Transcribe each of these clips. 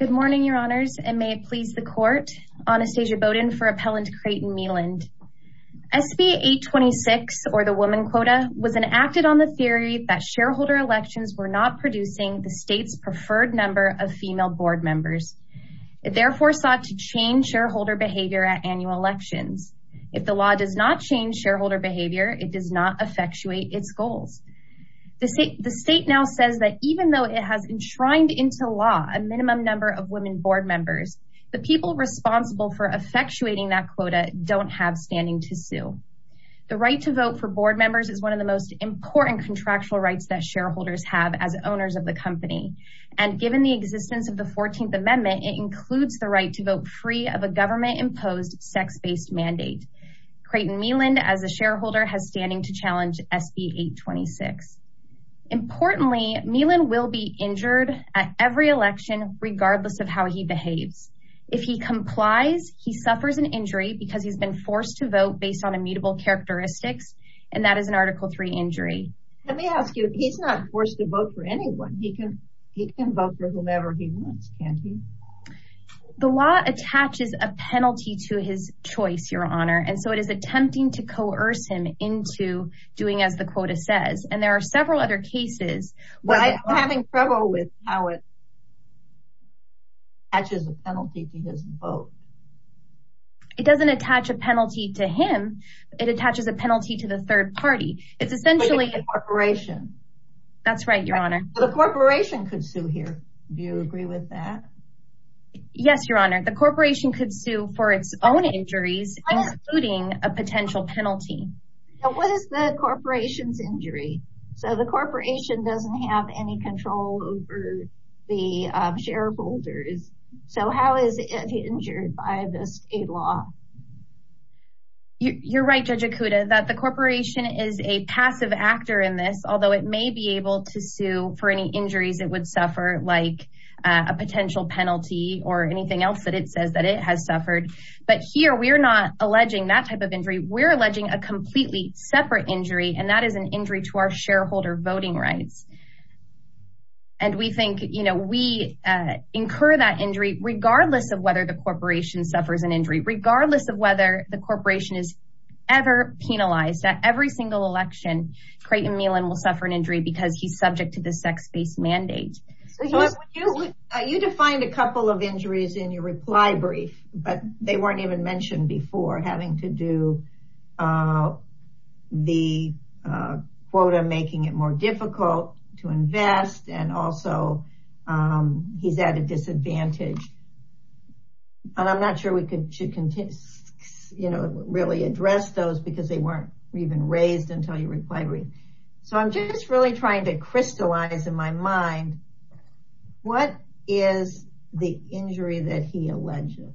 Good morning your honors and may it please the court Anastasia Bowden for appellant Creighton Meland. SB 826 or the woman quota was enacted on the theory that shareholder elections were not producing the state's preferred number of female board members. It therefore sought to change shareholder behavior at annual elections. If the law does not change shareholder behavior it does not effectuate its goals. The state now says that even though it has enshrined into law a minimum number of women board members the people responsible for effectuating that quota don't have standing to sue. The right to vote for board members is one of the most important contractual rights that shareholders have as owners of the company and given the existence of the 14th amendment it includes the right to vote free of a government-imposed sex-based mandate. Creighton Meland as a shareholder has standing to challenge SB 826. Importantly Meland will be injured at every election regardless of how he behaves. If he complies he suffers an injury because he's been forced to vote based on immutable characteristics and that is an article 3 injury. Let me ask you if he's not forced to vote for anyone he can he can vote for whomever he wants can't he? The law attaches a penalty to his choice your honor and so it is attempting to coerce him into doing as the quota says and there are several other cases. But I'm having trouble with how it attaches a penalty to his vote. It doesn't attach a penalty to him it attaches a penalty to the third party it's essentially a corporation. That's right your honor. The corporation could sue here do you agree with that? Yes your honor the corporation could sue for its own injuries including a potential penalty. What is the corporation's injury? So the corporation doesn't have any control over the shareholders so how is it injured by this state law? You're right Judge Akuda that the corporation is a passive actor in this although it may be able to sue for any injuries it would suffer like a potential penalty or anything else that it says that it has here we're not alleging that type of injury we're alleging a completely separate injury and that is an injury to our shareholder voting rights and we think you know we incur that injury regardless of whether the corporation suffers an injury regardless of whether the corporation is ever penalized at every single election Creighton Meelan will suffer an injury because he's subject to the sex-based mandate. You defined a couple of injuries in your reply brief but they weren't even mentioned before having to do the quota making it more difficult to invest and also he's at a disadvantage and I'm not sure we could you can you know really address those because they weren't even raised until you reply brief so I'm just really trying to crystallize in my mind what is the injury that he alleges?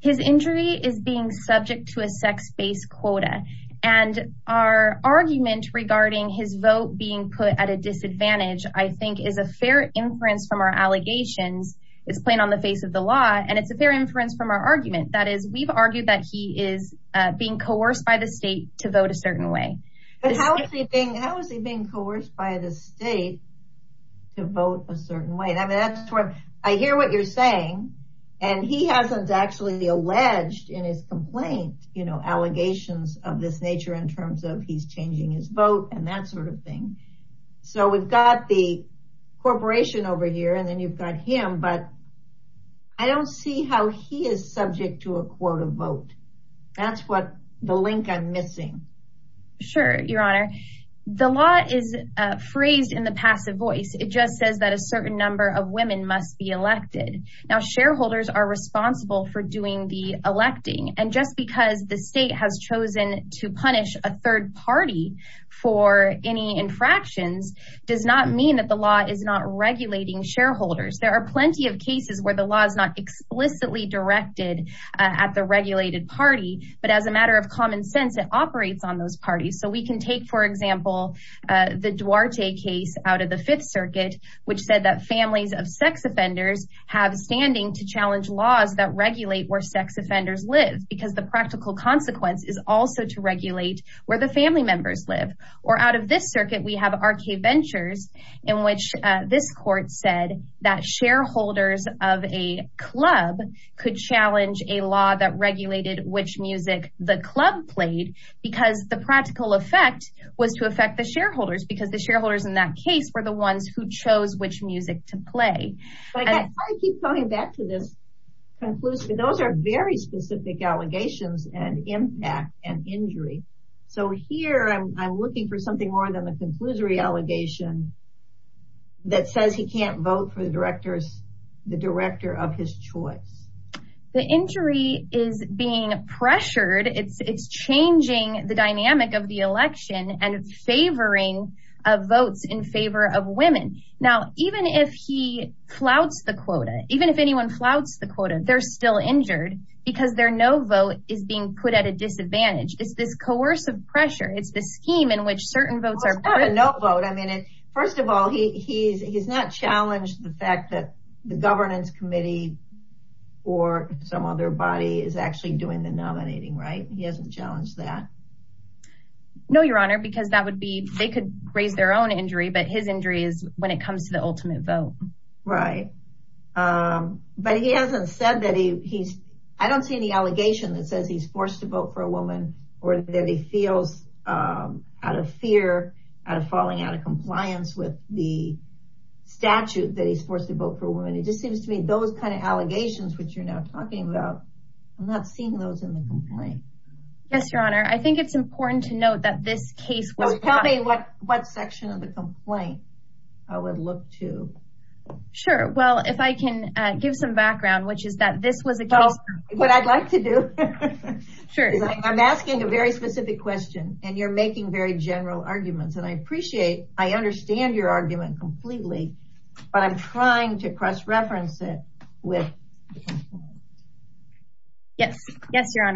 His injury is being subject to a sex-based quota and our argument regarding his vote being put at a disadvantage I think is a fair inference from our allegations it's plain on the face of the law and it's a fair inference from our argument that is we've argued that he is being coerced by the state to vote a certain way. How is he being coerced by the state to vote a certain way? I mean that's what I hear what you're saying and he hasn't actually alleged in his complaint you know allegations of this nature in terms of he's changing his vote and that sort of thing so we've got the corporation over here and then you've got him but I don't see how he is subject to a quota vote that's what the link I'm missing. Sure your honor the law is phrased in the passive voice it just says that a certain number of women must be elected now shareholders are responsible for doing the electing and just because the state has chosen to punish a third party for any infractions does not mean that the law is not regulating shareholders there are plenty of cases where the law is not explicitly directed at the regulated party but as a matter of common sense it operates on those parties so we can take for example the Duarte case out of the Fifth Circuit which said that families of sex offenders have standing to challenge laws that regulate where sex offenders live because the practical consequence is also to regulate where the family members live or out of this circuit we have RK Ventures in which this court said that shareholders of a club could challenge a law that was to affect the shareholders because the shareholders in that case were the ones who chose which music to play those are very specific allegations and impact and injury so here I'm looking for something more than the conclusory allegation that says he can't vote for the directors the director of his choice the injury is being pressured it's it's changing the dynamic of the election and favoring of votes in favor of women now even if he flouts the quota even if anyone flouts the quota they're still injured because there no vote is being put at a disadvantage it's this coercive pressure it's the scheme in which certain votes are no vote I mean it first of all he's not challenged the fact that the governance committee or some other body is actually doing the because that would be they could raise their own injury but his injury is when it comes to the ultimate vote right but he hasn't said that he he's I don't see any allegation that says he's forced to vote for a woman or that he feels out of fear out of falling out of compliance with the statute that he's forced to vote for a woman it just seems to me those kind of allegations which you're now talking about I'm not seeing those in the complaint yes your honor I think it's important to note that this case was probably what what section of the complaint I would look to sure well if I can give some background which is that this was a girl what I'd like to do sure I'm asking a very specific question and you're making very general arguments and I appreciate I understand your argument completely but I'm trying to cross-reference it with yes yes your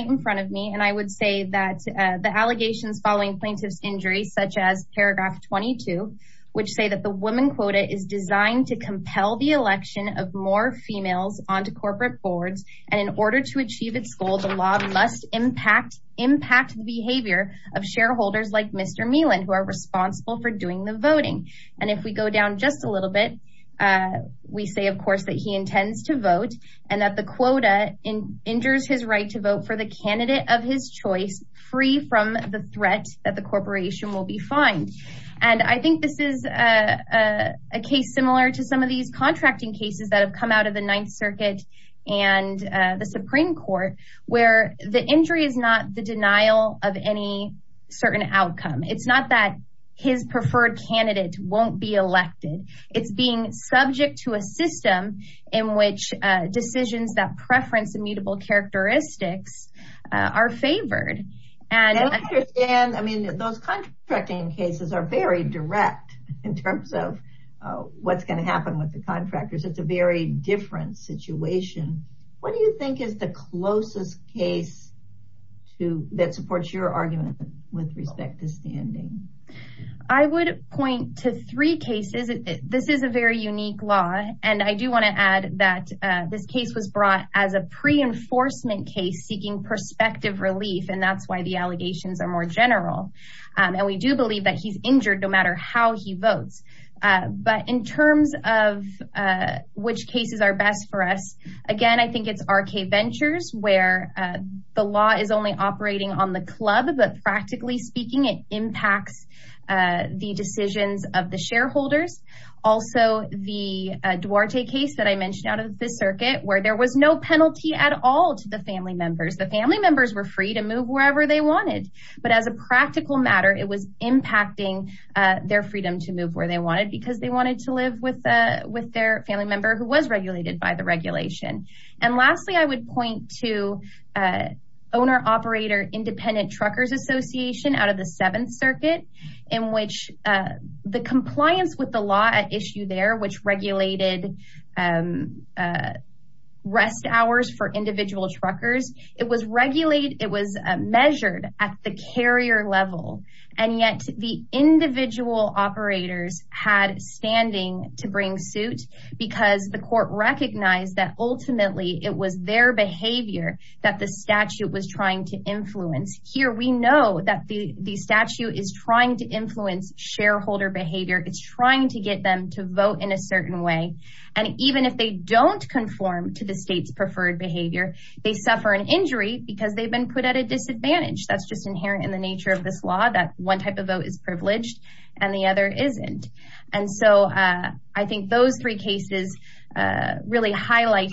in front of me and I would say that the allegations following plaintiffs injury such as paragraph 22 which say that the woman quota is designed to compel the election of more females onto corporate boards and in order to achieve its goal the law must impact impact the behavior of shareholders like mr. Melan who are responsible for doing the voting and if we go down just a little bit we say of course that he intends to vote and that the quota in injures his right to vote for the candidate of his choice free from the threat that the corporation will be fined and I think this is a case similar to some of these contracting cases that have come out of the Ninth Circuit and the Supreme Court where the injury is not the denial of any certain outcome it's not that his preferred candidate won't be elected it's being subject to a system in which decisions that preference immutable characteristics are favored and I mean those contracting cases are very direct in terms of what's going to happen with the contractors it's a very different situation what do you think is the closest case to that supports your argument with respect to standing I would point to three cases this is a very unique law and I do want to add that this case was brought as a pre-enforcement case seeking perspective relief and that's why the allegations are more general and we do believe that he's injured no matter how he votes but in terms of which cases are best for us again I think it's RK Ventures where the law is only operating on the club but practically speaking it impacts the decisions of the out of this circuit where there was no penalty at all to the family members the family members were free to move wherever they wanted but as a practical matter it was impacting their freedom to move where they wanted because they wanted to live with with their family member who was regulated by the regulation and lastly I would point to owner-operator independent truckers Association out of the Seventh Circuit in which the compliance with the law at there which regulated rest hours for individual truckers it was regulated it was measured at the carrier level and yet the individual operators had standing to bring suit because the court recognized that ultimately it was their behavior that the statute was trying to influence here we know that the the statute is trying to influence shareholder behavior it's trying to get them to vote in a certain way and even if they don't conform to the state's preferred behavior they suffer an injury because they've been put at a disadvantage that's just inherent in the nature of this law that one type of vote is privileged and the other isn't and so I think those three cases really highlight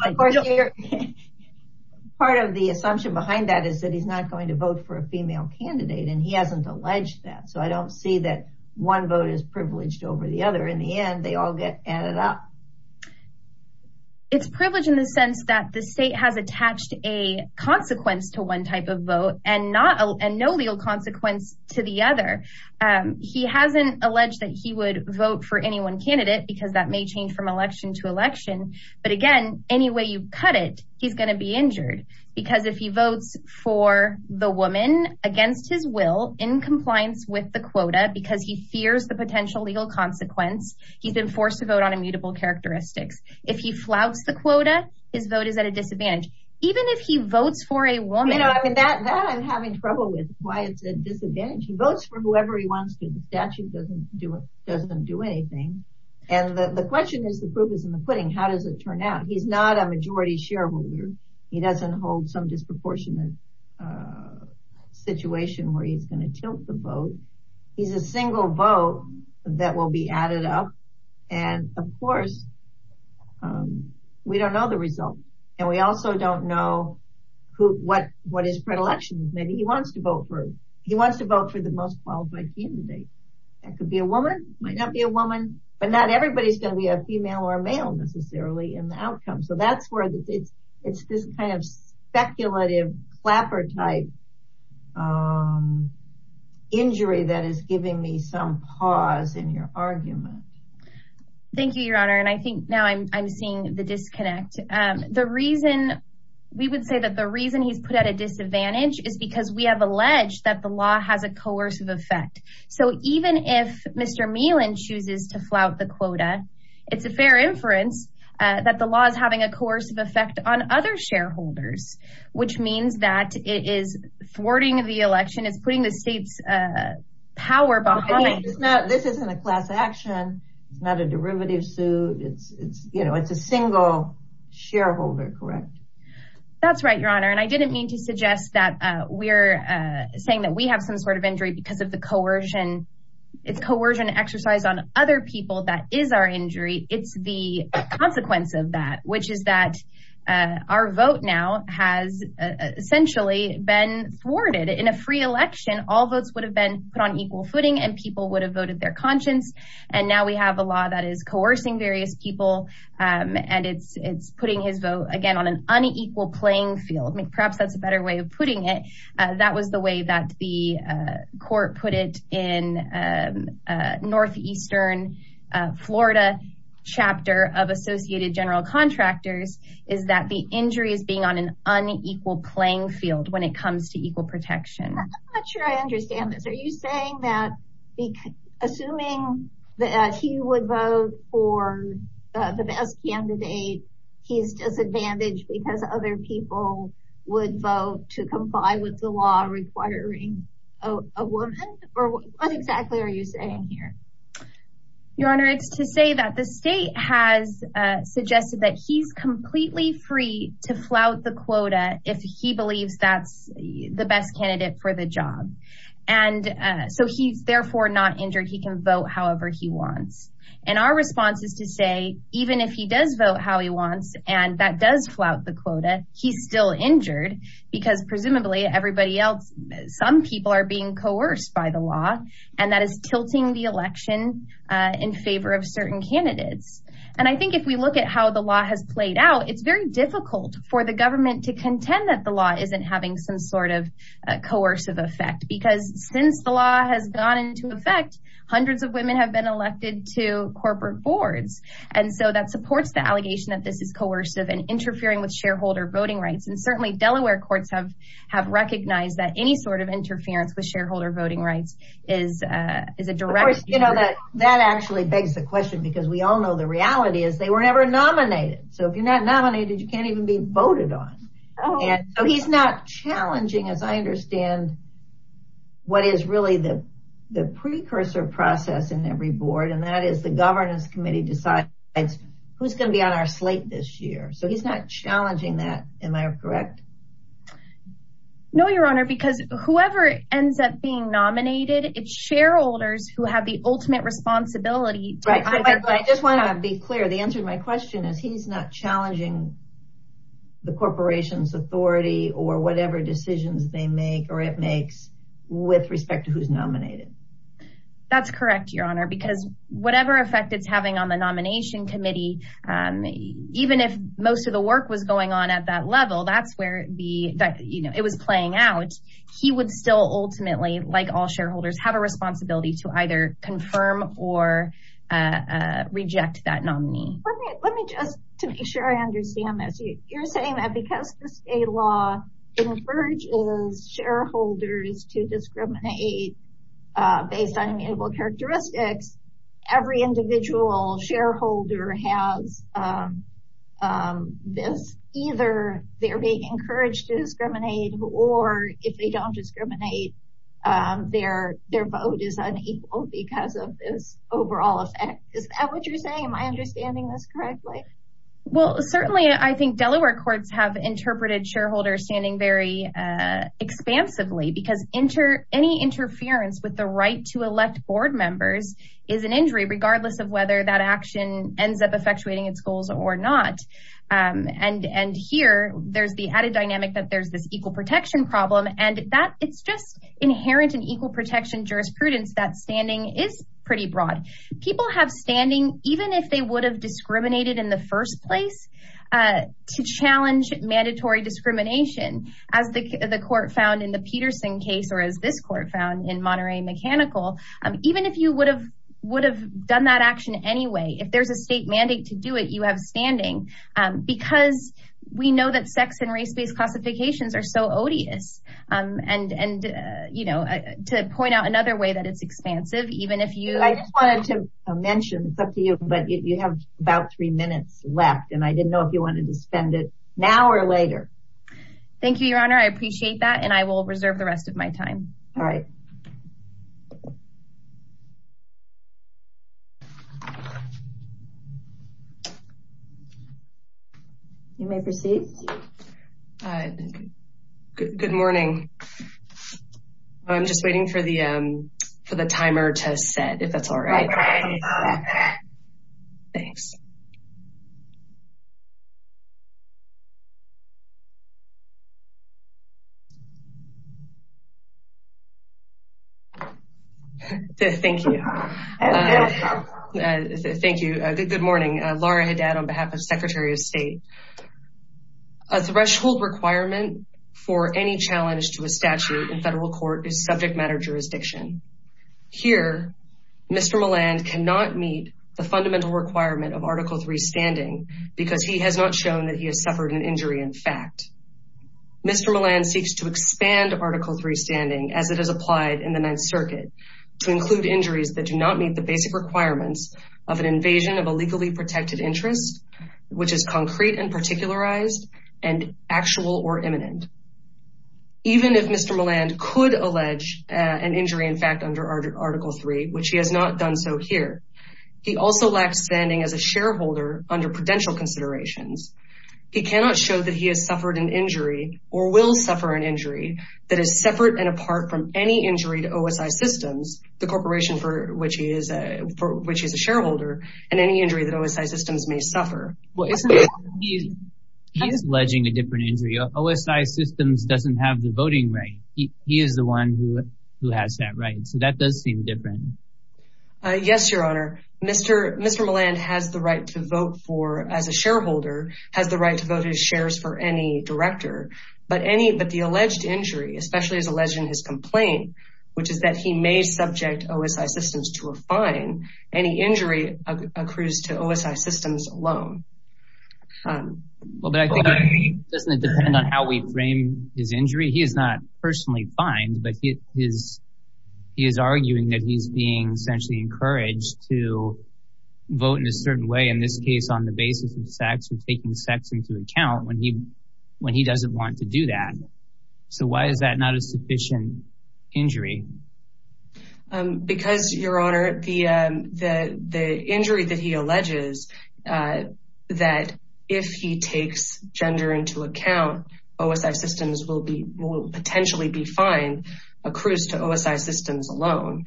part of the assumption behind that is that he's not going to vote for a female candidate and he hasn't alleged that so I don't see that one vote is and they all get added up it's privileged in the sense that the state has attached a consequence to one type of vote and not a no legal consequence to the other he hasn't alleged that he would vote for any one candidate because that may change from election to election but again any way you cut it he's gonna be injured because if he votes for the woman against his will in legal consequence he's been forced to vote on immutable characteristics if he flouts the quota his vote is at a disadvantage even if he votes for a woman I'm having trouble with why it's a disadvantage he votes for whoever he wants to the statute doesn't do it doesn't do anything and the question is the proof is in the pudding how does it turn out he's not a majority shareholder he doesn't hold some disproportionate situation where he's going to tilt the vote that will be added up and of course we don't know the result and we also don't know who what what his predilections maybe he wants to vote for he wants to vote for the most qualified candidate that could be a woman might not be a woman but not everybody's gonna be a female or male necessarily in the outcome so that's where it's it's this kind of speculative clapper type injury that is giving me some pause in your argument thank you your honor and I think now I'm seeing the disconnect the reason we would say that the reason he's put at a disadvantage is because we have alleged that the law has a coercive effect so even if mr. Meehlin chooses to flout the quota it's a fair inference that the law is having a course of effect on other shareholders which means that it is thwarting the election is putting the state's power behind it's not this isn't a class action it's not a derivative suit it's it's you know it's a single shareholder correct that's right your honor and I didn't mean to suggest that we're saying that we have some sort of injury because of the coercion it's coercion exercise on other people that is our injury it's the essentially been thwarted in a free election all votes would have been put on equal footing and people would have voted their conscience and now we have a law that is coercing various people and it's it's putting his vote again on an unequal playing field perhaps that's a better way of putting it that was the way that the court put it in northeastern Florida chapter of Associated General Contractors is that the injury is being on an unequal playing field when it comes to equal protection I'm not sure I understand this are you saying that assuming that he would vote for the best candidate he's disadvantaged because other people would vote to comply with the law requiring a woman or what exactly are you saying here your honor it's to say that the state has suggested that he's completely free to flout the quota if he believes that's the best candidate for the job and so he's therefore not injured he can vote however he wants and our response is to say even if he does vote how he wants and that does flout the quota he's still injured because presumably everybody else some people are being coerced by the law and that is tilting the election in favor of certain candidates and I think if we look at how the law has played out it's very difficult for the government to contend that the law isn't having some sort of coercive effect because since the law has gone into effect hundreds of women have been elected to corporate boards and so that supports the allegation that this is coercive and interfering with shareholder voting rights and certainly Delaware courts have have recognized that any sort of interference with shareholder voting rights is is a direct you know that that actually begs the question because we all know the reality is they were never nominated so if you're not nominated you can't even be voted on oh yeah he's not challenging as I understand what is really the the precursor process in every board and that is the governance committee decides it's who's gonna be on our slate this year so he's not challenging that am I correct no your honor because whoever ends up being nominated its shareholders who have the ultimate responsibility right I just want to be clear the answer to my question is he's not challenging the corporation's authority or whatever decisions they make or it makes with respect to who's nominated that's correct your honor because whatever effect it's having on the nomination committee even if most of the work was going on at that level that that's where it be that you know it was playing out he would still ultimately like all shareholders have a responsibility to either confirm or reject that nominee let me just to be sure I understand this you're saying that because the state law encourages shareholders to discriminate based on immutable characteristics every individual shareholder has this either they're being encouraged to discriminate or if they don't discriminate their their vote is unequal because of this overall effect is that what you're saying am I understanding this correctly well certainly I think Delaware courts have interpreted shareholders standing very expansively because enter any interference with the right to elect board members is an injury regardless of there's the added dynamic that there's this equal protection problem and that it's just inherent in equal protection jurisprudence that standing is pretty broad people have standing even if they would have discriminated in the first place to challenge mandatory discrimination as the court found in the Peterson case or as this court found in Monterey mechanical even if you would have would have done that action anyway if there's a state mandate to do it you have standing because we know that sex and race-based classifications are so odious and and you know to point out another way that it's expansive even if you mentioned but you have about three minutes left and I didn't know if you wanted to spend it now or later thank you your honor I appreciate that and I you may proceed good morning I'm just waiting for the for the timer to set if that's all right thanks thank you thank you good morning Laura Haddad on behalf of Secretary of State a threshold requirement for any challenge to a statute in federal court is subject to the statute of limitations of the matter jurisdiction here mr. Moland cannot meet the fundamental requirement of article 3 standing because he has not shown that he has suffered an injury in fact mr. Moland seeks to expand article 3 standing as it is applied in the Ninth Circuit to include injuries that do not meet the basic requirements of an invasion of a legally protected interest which is concrete and particularized and actual or imminent even if mr. Moland could allege an injury in fact under article 3 which he has not done so here he also lacks standing as a shareholder under prudential considerations he cannot show that he has suffered an injury or will suffer an injury that is separate and apart from any injury to OSI systems the corporation for which he is a for which is a shareholder and any injury that OSI systems may suffer well isn't he he's alleging a different injury OSI systems doesn't have the voting right he is the one who who has that right so that does seem different yes your honor mr. mr. Moland has the right to vote for as a shareholder has the right to vote his shares for any director but any but the alleged injury especially as alleged in his complaint which is that he may subject OSI systems to a fine any injury accrues to OSI systems alone well but I think doesn't it depend on how we frame his injury he is not personally fined but he is he is arguing that he's being essentially encouraged to vote in a certain way in this case on the basis of sex and taking sex into account when he when he doesn't want to do that so why is that not a sufficient injury because your honor the the injury that he alleges that if he takes gender into account OSI systems will be will potentially be fine accrues to OSI systems alone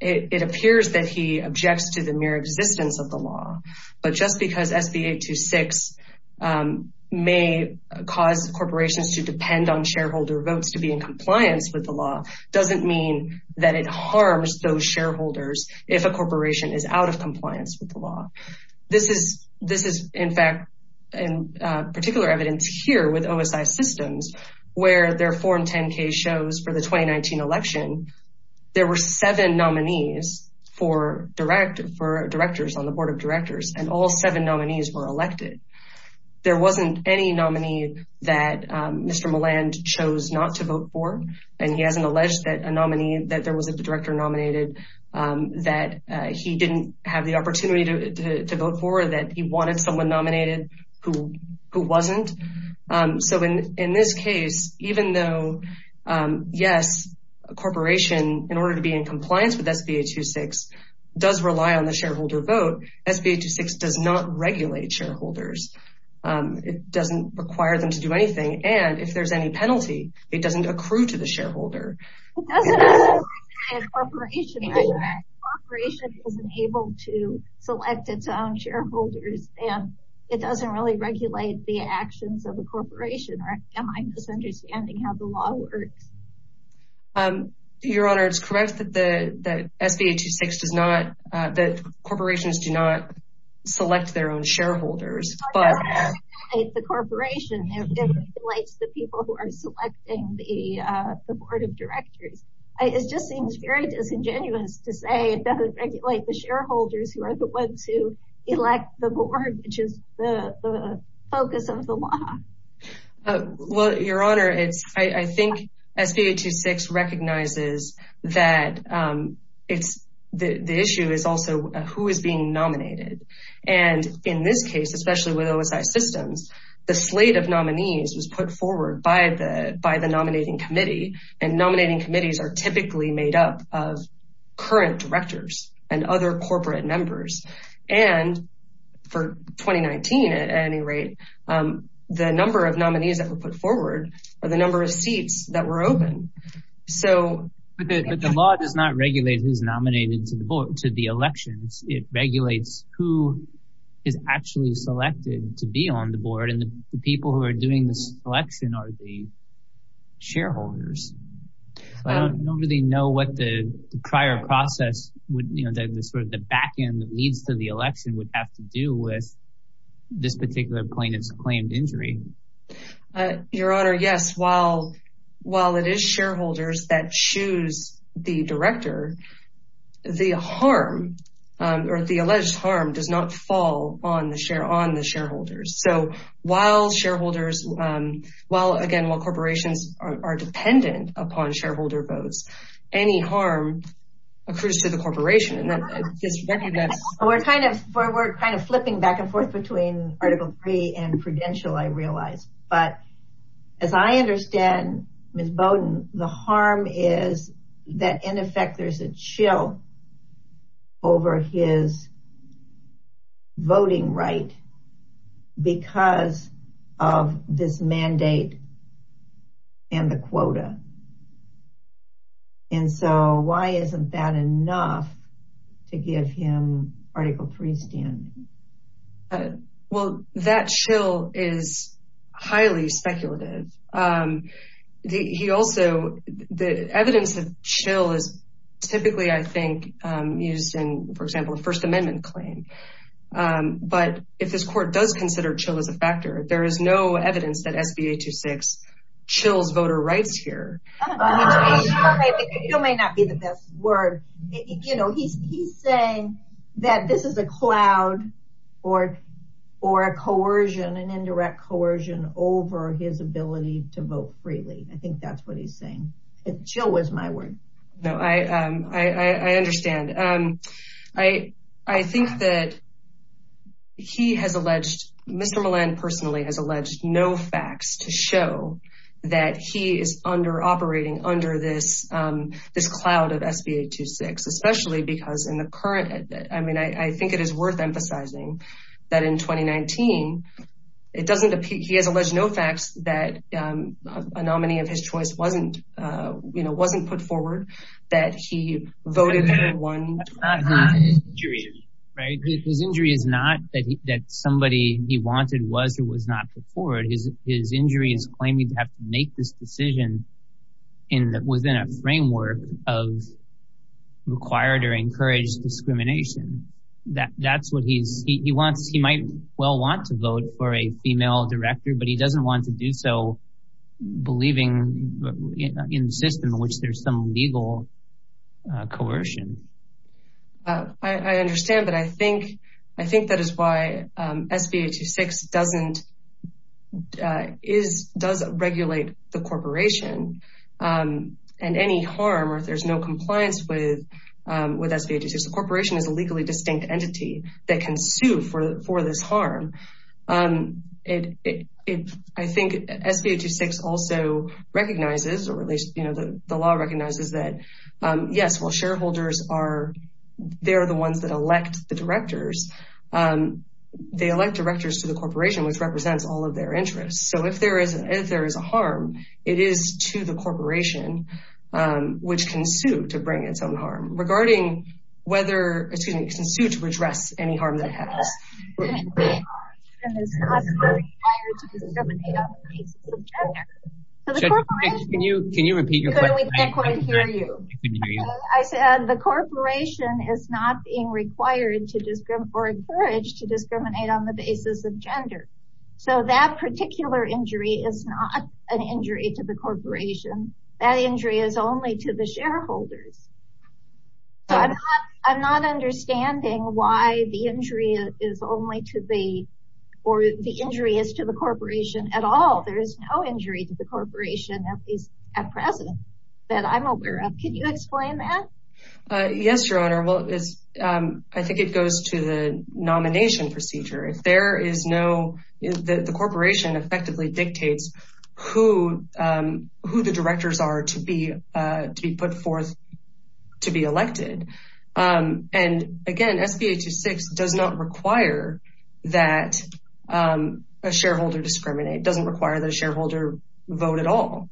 it appears that he objects to the mere existence of the law but just because SB 826 may cause corporations to depend on shareholder votes to be in that it harms those shareholders if a corporation is out of compliance with the law this is this is in fact in particular evidence here with OSI systems where their foreign 10k shows for the 2019 election there were seven nominees for direct for directors on the board of directors and all seven nominees were elected there wasn't any nominee that mr. Moland chose not to vote for and he hasn't alleged that a nominee that there was a director nominated that he didn't have the opportunity to vote for that he wanted someone nominated who who wasn't so in in this case even though yes a corporation in order to be in compliance with SB 826 does rely on the shareholder vote SB 826 does not regulate shareholders it doesn't require them to do anything and if there's any penalty it doesn't accrue to the shareholder able to select its own shareholders and it doesn't really regulate the actions of the corporation or am I misunderstanding how the law works your honor it's correct that the SB 826 does not that corporations do not select their own shareholders but the corporation likes the people who are selecting the board of directors it just seems very disingenuous to say it doesn't regulate the shareholders who are the ones who elect the board which is the focus of the law well your honor it's I think SB 826 recognizes that it's the issue is also who is being nominated and in this case especially with OSI systems the slate of nominees was put forward by the by the nominating committee and nominating committees are typically made up of current directors and other corporate members and for 2019 at any rate the number of nominees that were put forward or the number of seats that were open so the law does not regulate who's nominated to the board to the elections it regulates who is actually selected to be on the board and the people who are doing this election are the shareholders I don't really know what the prior process would you know that this sort of the back end that leads to the election would have to do with this particular plaintiffs claimed injury your honor yes while while it is shareholders that choose the director the harm or the alleged harm does not fall on the share on the shareholders so while shareholders well again while corporations are dependent upon shareholder votes any harm occurs to the corporation and that is recognized we're kind of we're kind of flipping back and forth between article three and prudential I realize but as I understand miss Bowden the harm is that in effect there's a chill over his voting right because of this mandate and the quota and so why isn't that enough to give him article 3 stand well that chill is highly speculative he also the evidence that chill is typically I think using for example a First Amendment claim but if this court does consider chill as a factor there is no evidence that SBA to voter rights here you know he's saying that this is a cloud or or a coercion an indirect coercion over his ability to vote freely I think that's what he's saying it chill was my word no I I understand um I I think that he has that he is under operating under this this cloud of SBA to six especially because in the current I mean I think it is worth emphasizing that in 2019 it doesn't he has alleged no facts that a nominee of his choice wasn't you know wasn't put forward that he voted one right his injury is not that somebody he to have to make this decision in that within a framework of required or encouraged discrimination that that's what he's he wants he might well want to vote for a female director but he doesn't want to do so believing in the system in which there's some legal coercion I understand that I think I is does regulate the corporation and any harm or if there's no compliance with with SBA to six the corporation is a legally distinct entity that can sue for for this harm it I think SBA to six also recognizes or at least you know the law recognizes that yes well shareholders are they're the ones that elect the directors to the corporation which represents all of their interests so if there is if there is a harm it is to the corporation which can sue to bring its own harm regarding whether excuse me can sue to redress any harm that has I said the corporation is not being required to discriminate or encouraged to discriminate on the basis of gender so that particular injury is not an injury to the corporation that injury is only to the shareholders I'm not understanding why the injury is only to the or the injury is to the corporation at all there is no injury to the corporation at least at present that I'm aware of can you explain that yes your honor well is I think it goes to the there is no is that the corporation effectively dictates who who the directors are to be to be put forth to be elected and again SBA to six does not require that a shareholder discriminate doesn't require the shareholder vote at all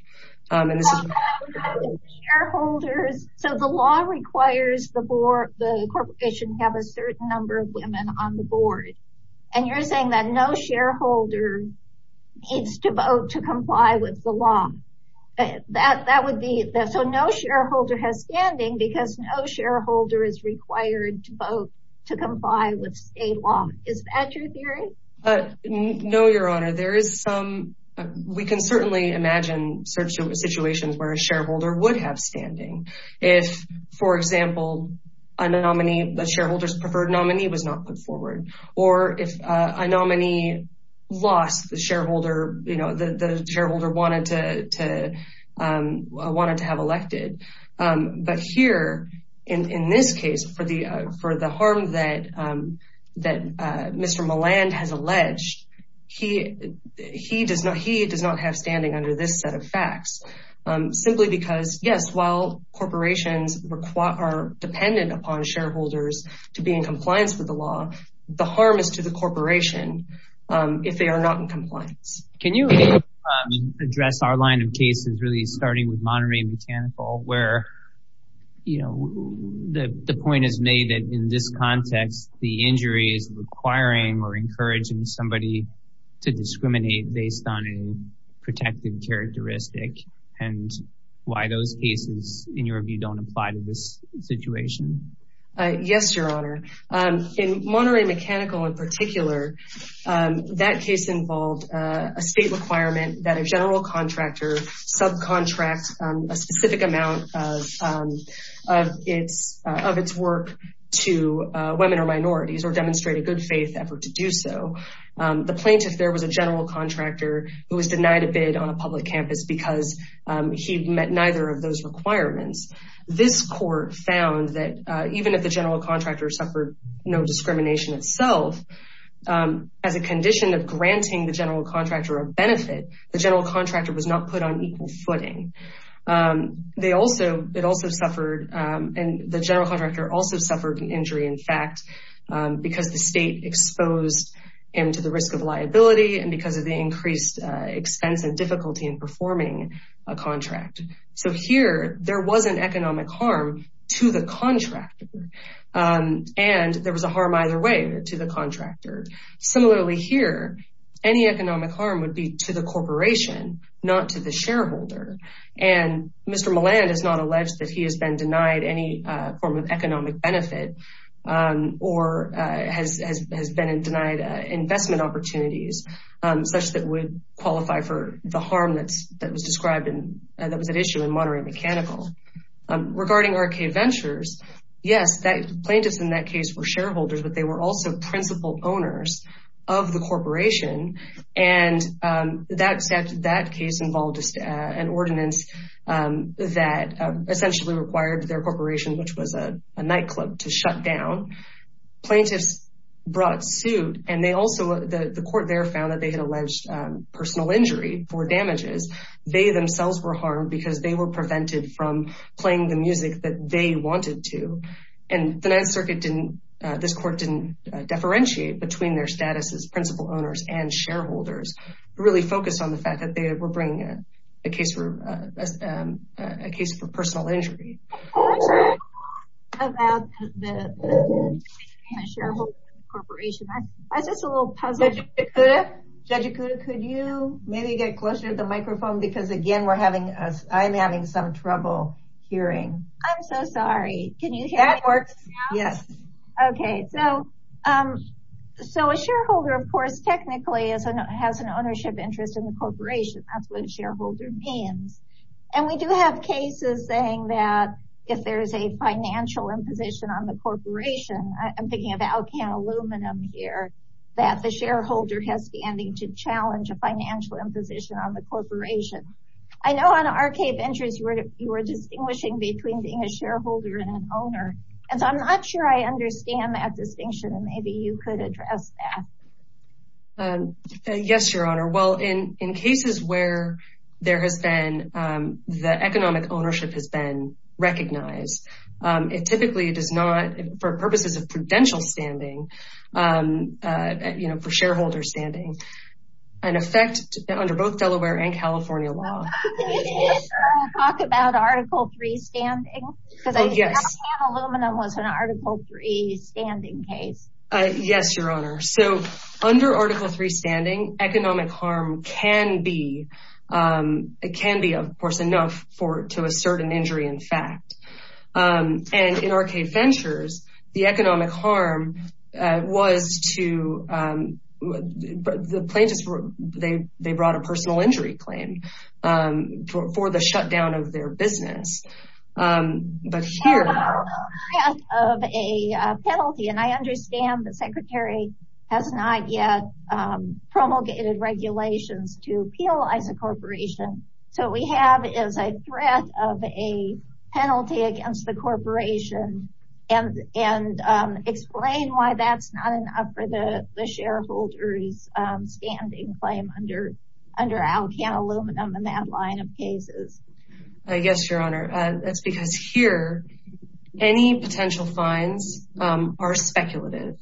and this is shareholders so the law requires the board the corporation have a certain number of women on the board and you're saying that no shareholder needs to vote to comply with the law that that would be so no shareholder has standing because no shareholder is required to vote to comply with state law is that your theory but no your honor there is some we can certainly imagine certain situations where a shareholder would have standing if for example a nominee the shareholders preferred nominee was not put forward or if a nominee lost the shareholder you know the shareholder wanted to wanted to have elected but here in this case for the for the harm that that mr. Milan has alleged he he does not he does not have standing under this set of facts simply because yes while corporations require are dependent upon shareholders to be in compliance with the law the harm is to the corporation if they are not in compliance can you address our line of cases really starting with Monterey Botanical where you know the the point is made that in this context the injury is requiring or encouraging somebody to discriminate based on a protected characteristic and why those pieces in your view don't apply to this situation yes your honor in Monterey Mechanical in particular that case involved a state requirement that a general contractor subcontract a specific amount of its of its work to women or minorities or demonstrate a good faith effort to do so the plaintiff there was a general contractor who was denied a bid on a public campus because he met neither of those requirements this court found that even if the general contractor suffered no discrimination itself as a condition of granting the general contractor a benefit the general contractor was not put on equal footing they also it also suffered and the general contractor also suffered an injury in fact because the state exposed him to the risk of liability and because of the increased expense and difficulty in performing a contract so here there was an economic harm to the contractor and there was a harm either way to the contractor similarly here any economic harm would be to the corporation not to the shareholder and Mr. Milland is not benefit or has been in denied investment opportunities such that would qualify for the harm that's that was described in that was an issue in Monterey Mechanical regarding arcade ventures yes that plaintiffs in that case were shareholders but they were also principal owners of the corporation and that's that case involved an ordinance that essentially required their corporation which was a nightclub to shut down plaintiffs brought suit and they also the the court there found that they had alleged personal injury for damages they themselves were harmed because they were prevented from playing the music that they wanted to and the Ninth Circuit didn't this court didn't differentiate between their status as principal owners and shareholders really focused on the fact that they were bringing in a case for a case for personal injury could you maybe get closer to the microphone because again we're having us I'm having some trouble hearing I'm so sorry can you hear it works yes okay so um so a shareholder of course technically isn't it has an ownership interest in the corporation that's what a shareholder means and we do have cases saying that if there is a financial imposition on the corporation I'm thinking about can aluminum here that the shareholder has standing to challenge a financial imposition on the corporation I know on arcade ventures you were distinguishing between being a shareholder and an owner and so I'm not sure I understand that distinction and maybe you could address that yes your the economic ownership has been recognized it typically it is not for purposes of prudential standing you know for shareholders standing an effect under both Delaware and California law about article 3 standing yes your honor so under article 3 standing economic harm can be it can be of course enough for to a certain injury in fact and in arcade ventures the economic harm was to the plaintiffs were they they brought a shutdown of their business but here of a penalty and I understand the secretary has not yet promulgated regulations to peel is a corporation so we have is a threat of a penalty against the corporation and and explain why that's not enough for the the shareholders standing claim under under aluminum in that line of cases I guess your honor that's because here any potential fines are speculative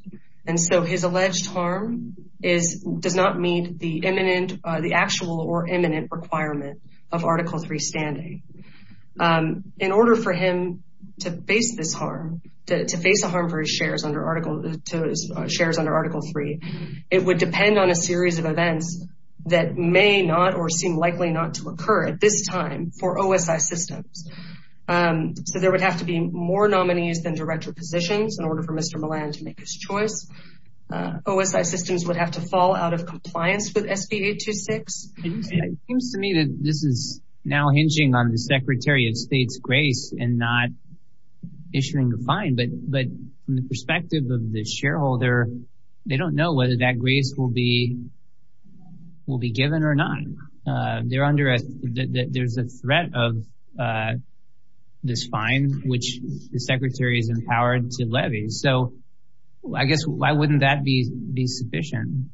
and so his alleged harm is does not meet the imminent the actual or imminent requirement of article 3 standing in order for him to face this harm to face the harm for his shares under article 2 shares under article 3 it would depend on a series of events that may not or seem likely not to occur at this time for OSI systems so there would have to be more nominees than director positions in order for mr. Milan to make his choice OSI systems would have to fall out of compliance with SB 826 to me that this is now hinging on the Secretary of State's grace and not issuing a fine but the perspective of the shareholder they don't know whether that grace will be will be given or not they're under a there's a threat of this fine which the secretary is empowered to levy so I guess why wouldn't that be be sufficient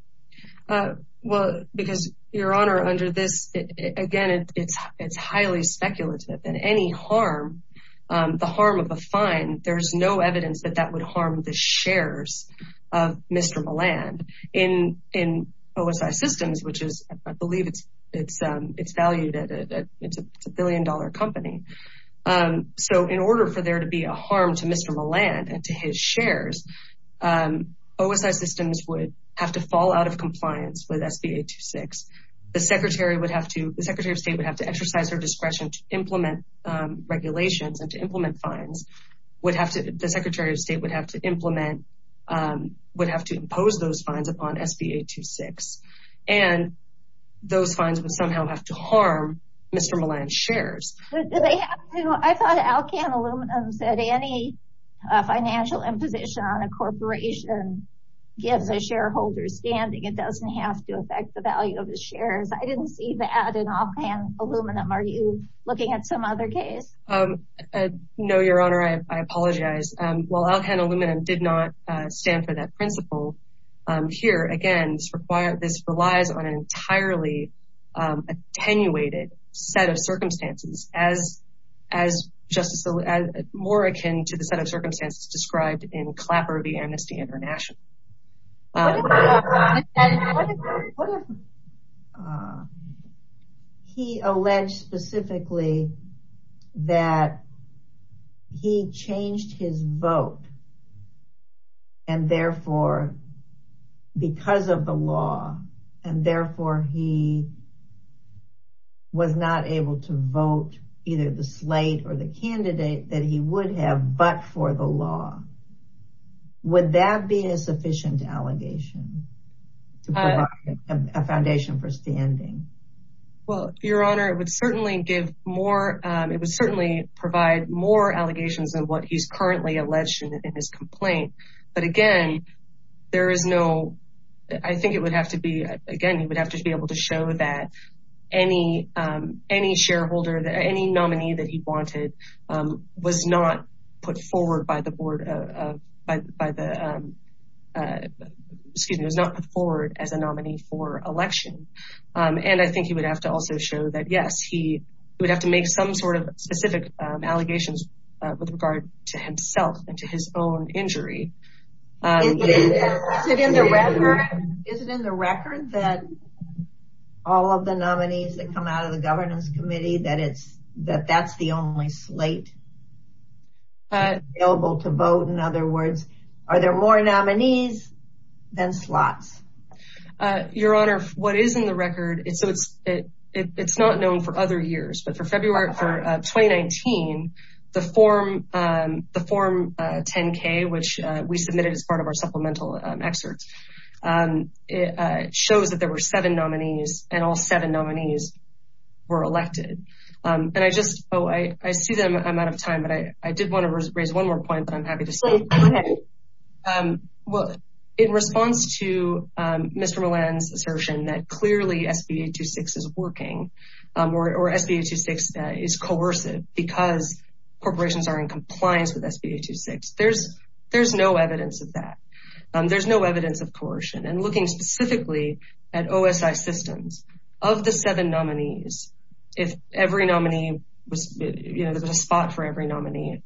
well because your honor under this again it's it's highly speculative and any harm the harm of a fine there's no evidence that that would harm the shares of mr. Milan in in OSI systems which is I believe it's it's it's valued at a billion-dollar company so in order for there to be a harm to mr. Milan and to his shares OSI systems would have to fall out of compliance with SB 826 the secretary would have to the Secretary of State would have to exercise her regulations and to implement fines would have to the Secretary of State would have to implement would have to impose those fines upon SB 826 and those fines would somehow have to harm mr. Milan shares any financial imposition on a corporation gives a shareholder standing it doesn't have to affect the value of the shares I didn't see that in all pan aluminum are you looking at some other case no your honor I apologize well I'll handle women did not stand for that principle here again this requires this relies on an entirely attenuated set of circumstances as as just so as more akin to the set of circumstances described in clapper the amnesty international he alleged specifically that he changed his vote and therefore because of the law and therefore he was not able to vote either the slate or the be a sufficient allegation a foundation for standing well your honor it would certainly give more it would certainly provide more allegations of what he's currently alleged in his complaint but again there is no I think it would have to be again you would have to be able to show that any any shareholder that any excuse me was not put forward as a nominee for election and I think he would have to also show that yes he would have to make some sort of specific allegations with regard to himself and to his own injury all of the nominees that come out of the Governance Committee that it's that that's the only able to vote in other words are there more nominees than slots your honor what is in the record it's so it's it it's not known for other years but for February 2019 the form the form 10k which we submitted as part of our supplemental excerpts it shows that there were seven nominees and all seven I'm out of time but I I did want to raise one more point but I'm happy to say well in response to mr. Milan's assertion that clearly sp826 is working or sp826 that is coercive because corporations are in compliance with sp826 there's there's no evidence of that there's no evidence of coercion and looking specifically at OSI systems of the seven nominees if every nominee was a spot for every nominee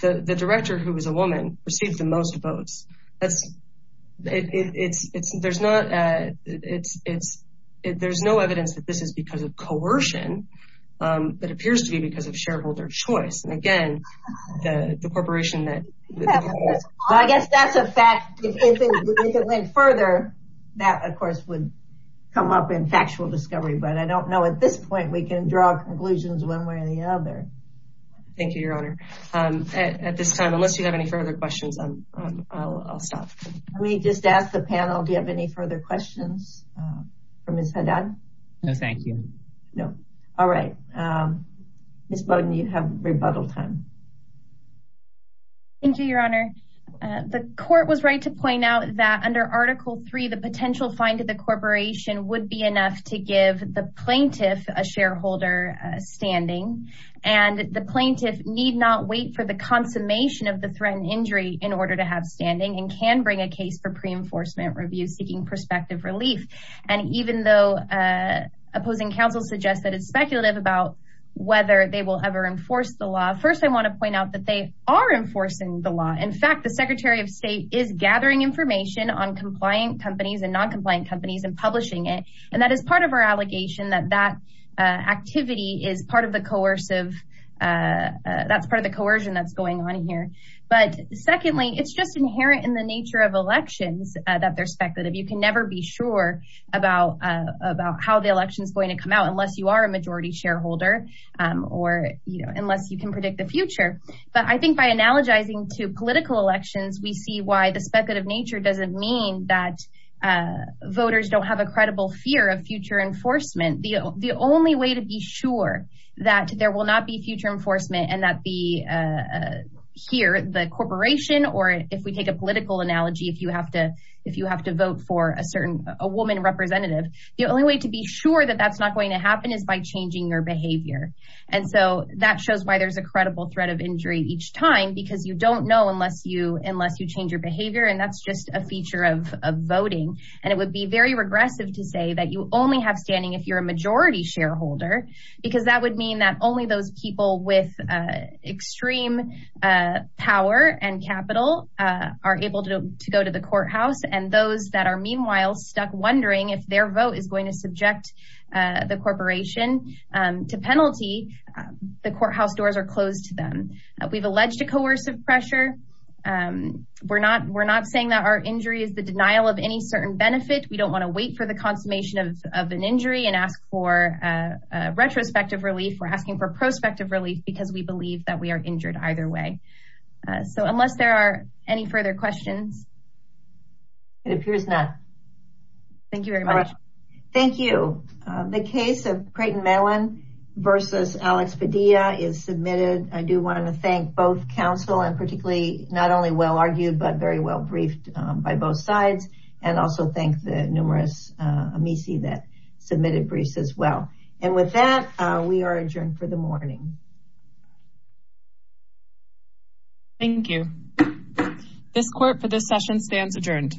the the director who was a woman received the most votes that's it's it's there's not it's it's it there's no evidence that this is because of coercion that appears to be because of shareholder choice and again the corporation that I guess that's a fact further that of course would come up in factual discovery but I don't know at this point we can draw a conclusion one way or the other thank you your honor at this time unless you have any further questions I'll stop let me just ask the panel do you have any further questions from his head down no thank you no all right miss Bowden you have rebuttal time thank you your honor the court was right to point out that under article 3 the potential find of the corporation would be enough to give the plaintiff a shareholder standing and the plaintiff need not wait for the consummation of the threatened injury in order to have standing and can bring a case for pre-enforcement review seeking prospective relief and even though opposing counsel suggests that it's speculative about whether they will ever enforce the law first I want to point out that they are enforcing the law in fact the Secretary of State is gathering information on compliant companies and non-compliant companies and publishing it and that is part of our allegation that that activity is part of the coercive that's part of the coercion that's going on here but secondly it's just inherent in the nature of elections that they're speculative you can never be sure about about how the election is going to come out unless you are a majority shareholder or you know unless you can predict the future but I think by analogizing to political elections we see why the speculative nature doesn't mean that voters don't have a credible fear of future enforcement the only way to be sure that there will not be future enforcement and that the here the corporation or if we take a political analogy if you have to if you have to vote for a certain a woman representative the only way to be sure that that's not going to happen is by changing your behavior and so that shows why there's a credible threat of injury each time because you don't know unless you unless you change your behavior and that's just a feature of voting and it would be very regressive to say that you only have standing if you're a majority shareholder because that would mean that only those people with extreme power and capital are able to go to the courthouse and those that are meanwhile stuck wondering if their vote is going to subject the corporation to penalty the coercive pressure we're not we're not saying that our injury is the denial of any certain benefit we don't want to wait for the consummation of an injury and ask for retrospective relief we're asking for prospective relief because we believe that we are injured either way so unless there are any further questions it appears that thank you very much thank you the case of Creighton not only well argued but very well briefed by both sides and also thank the numerous Amici that submitted briefs as well and with that we are adjourned for the morning thank you this court for this session stands adjourned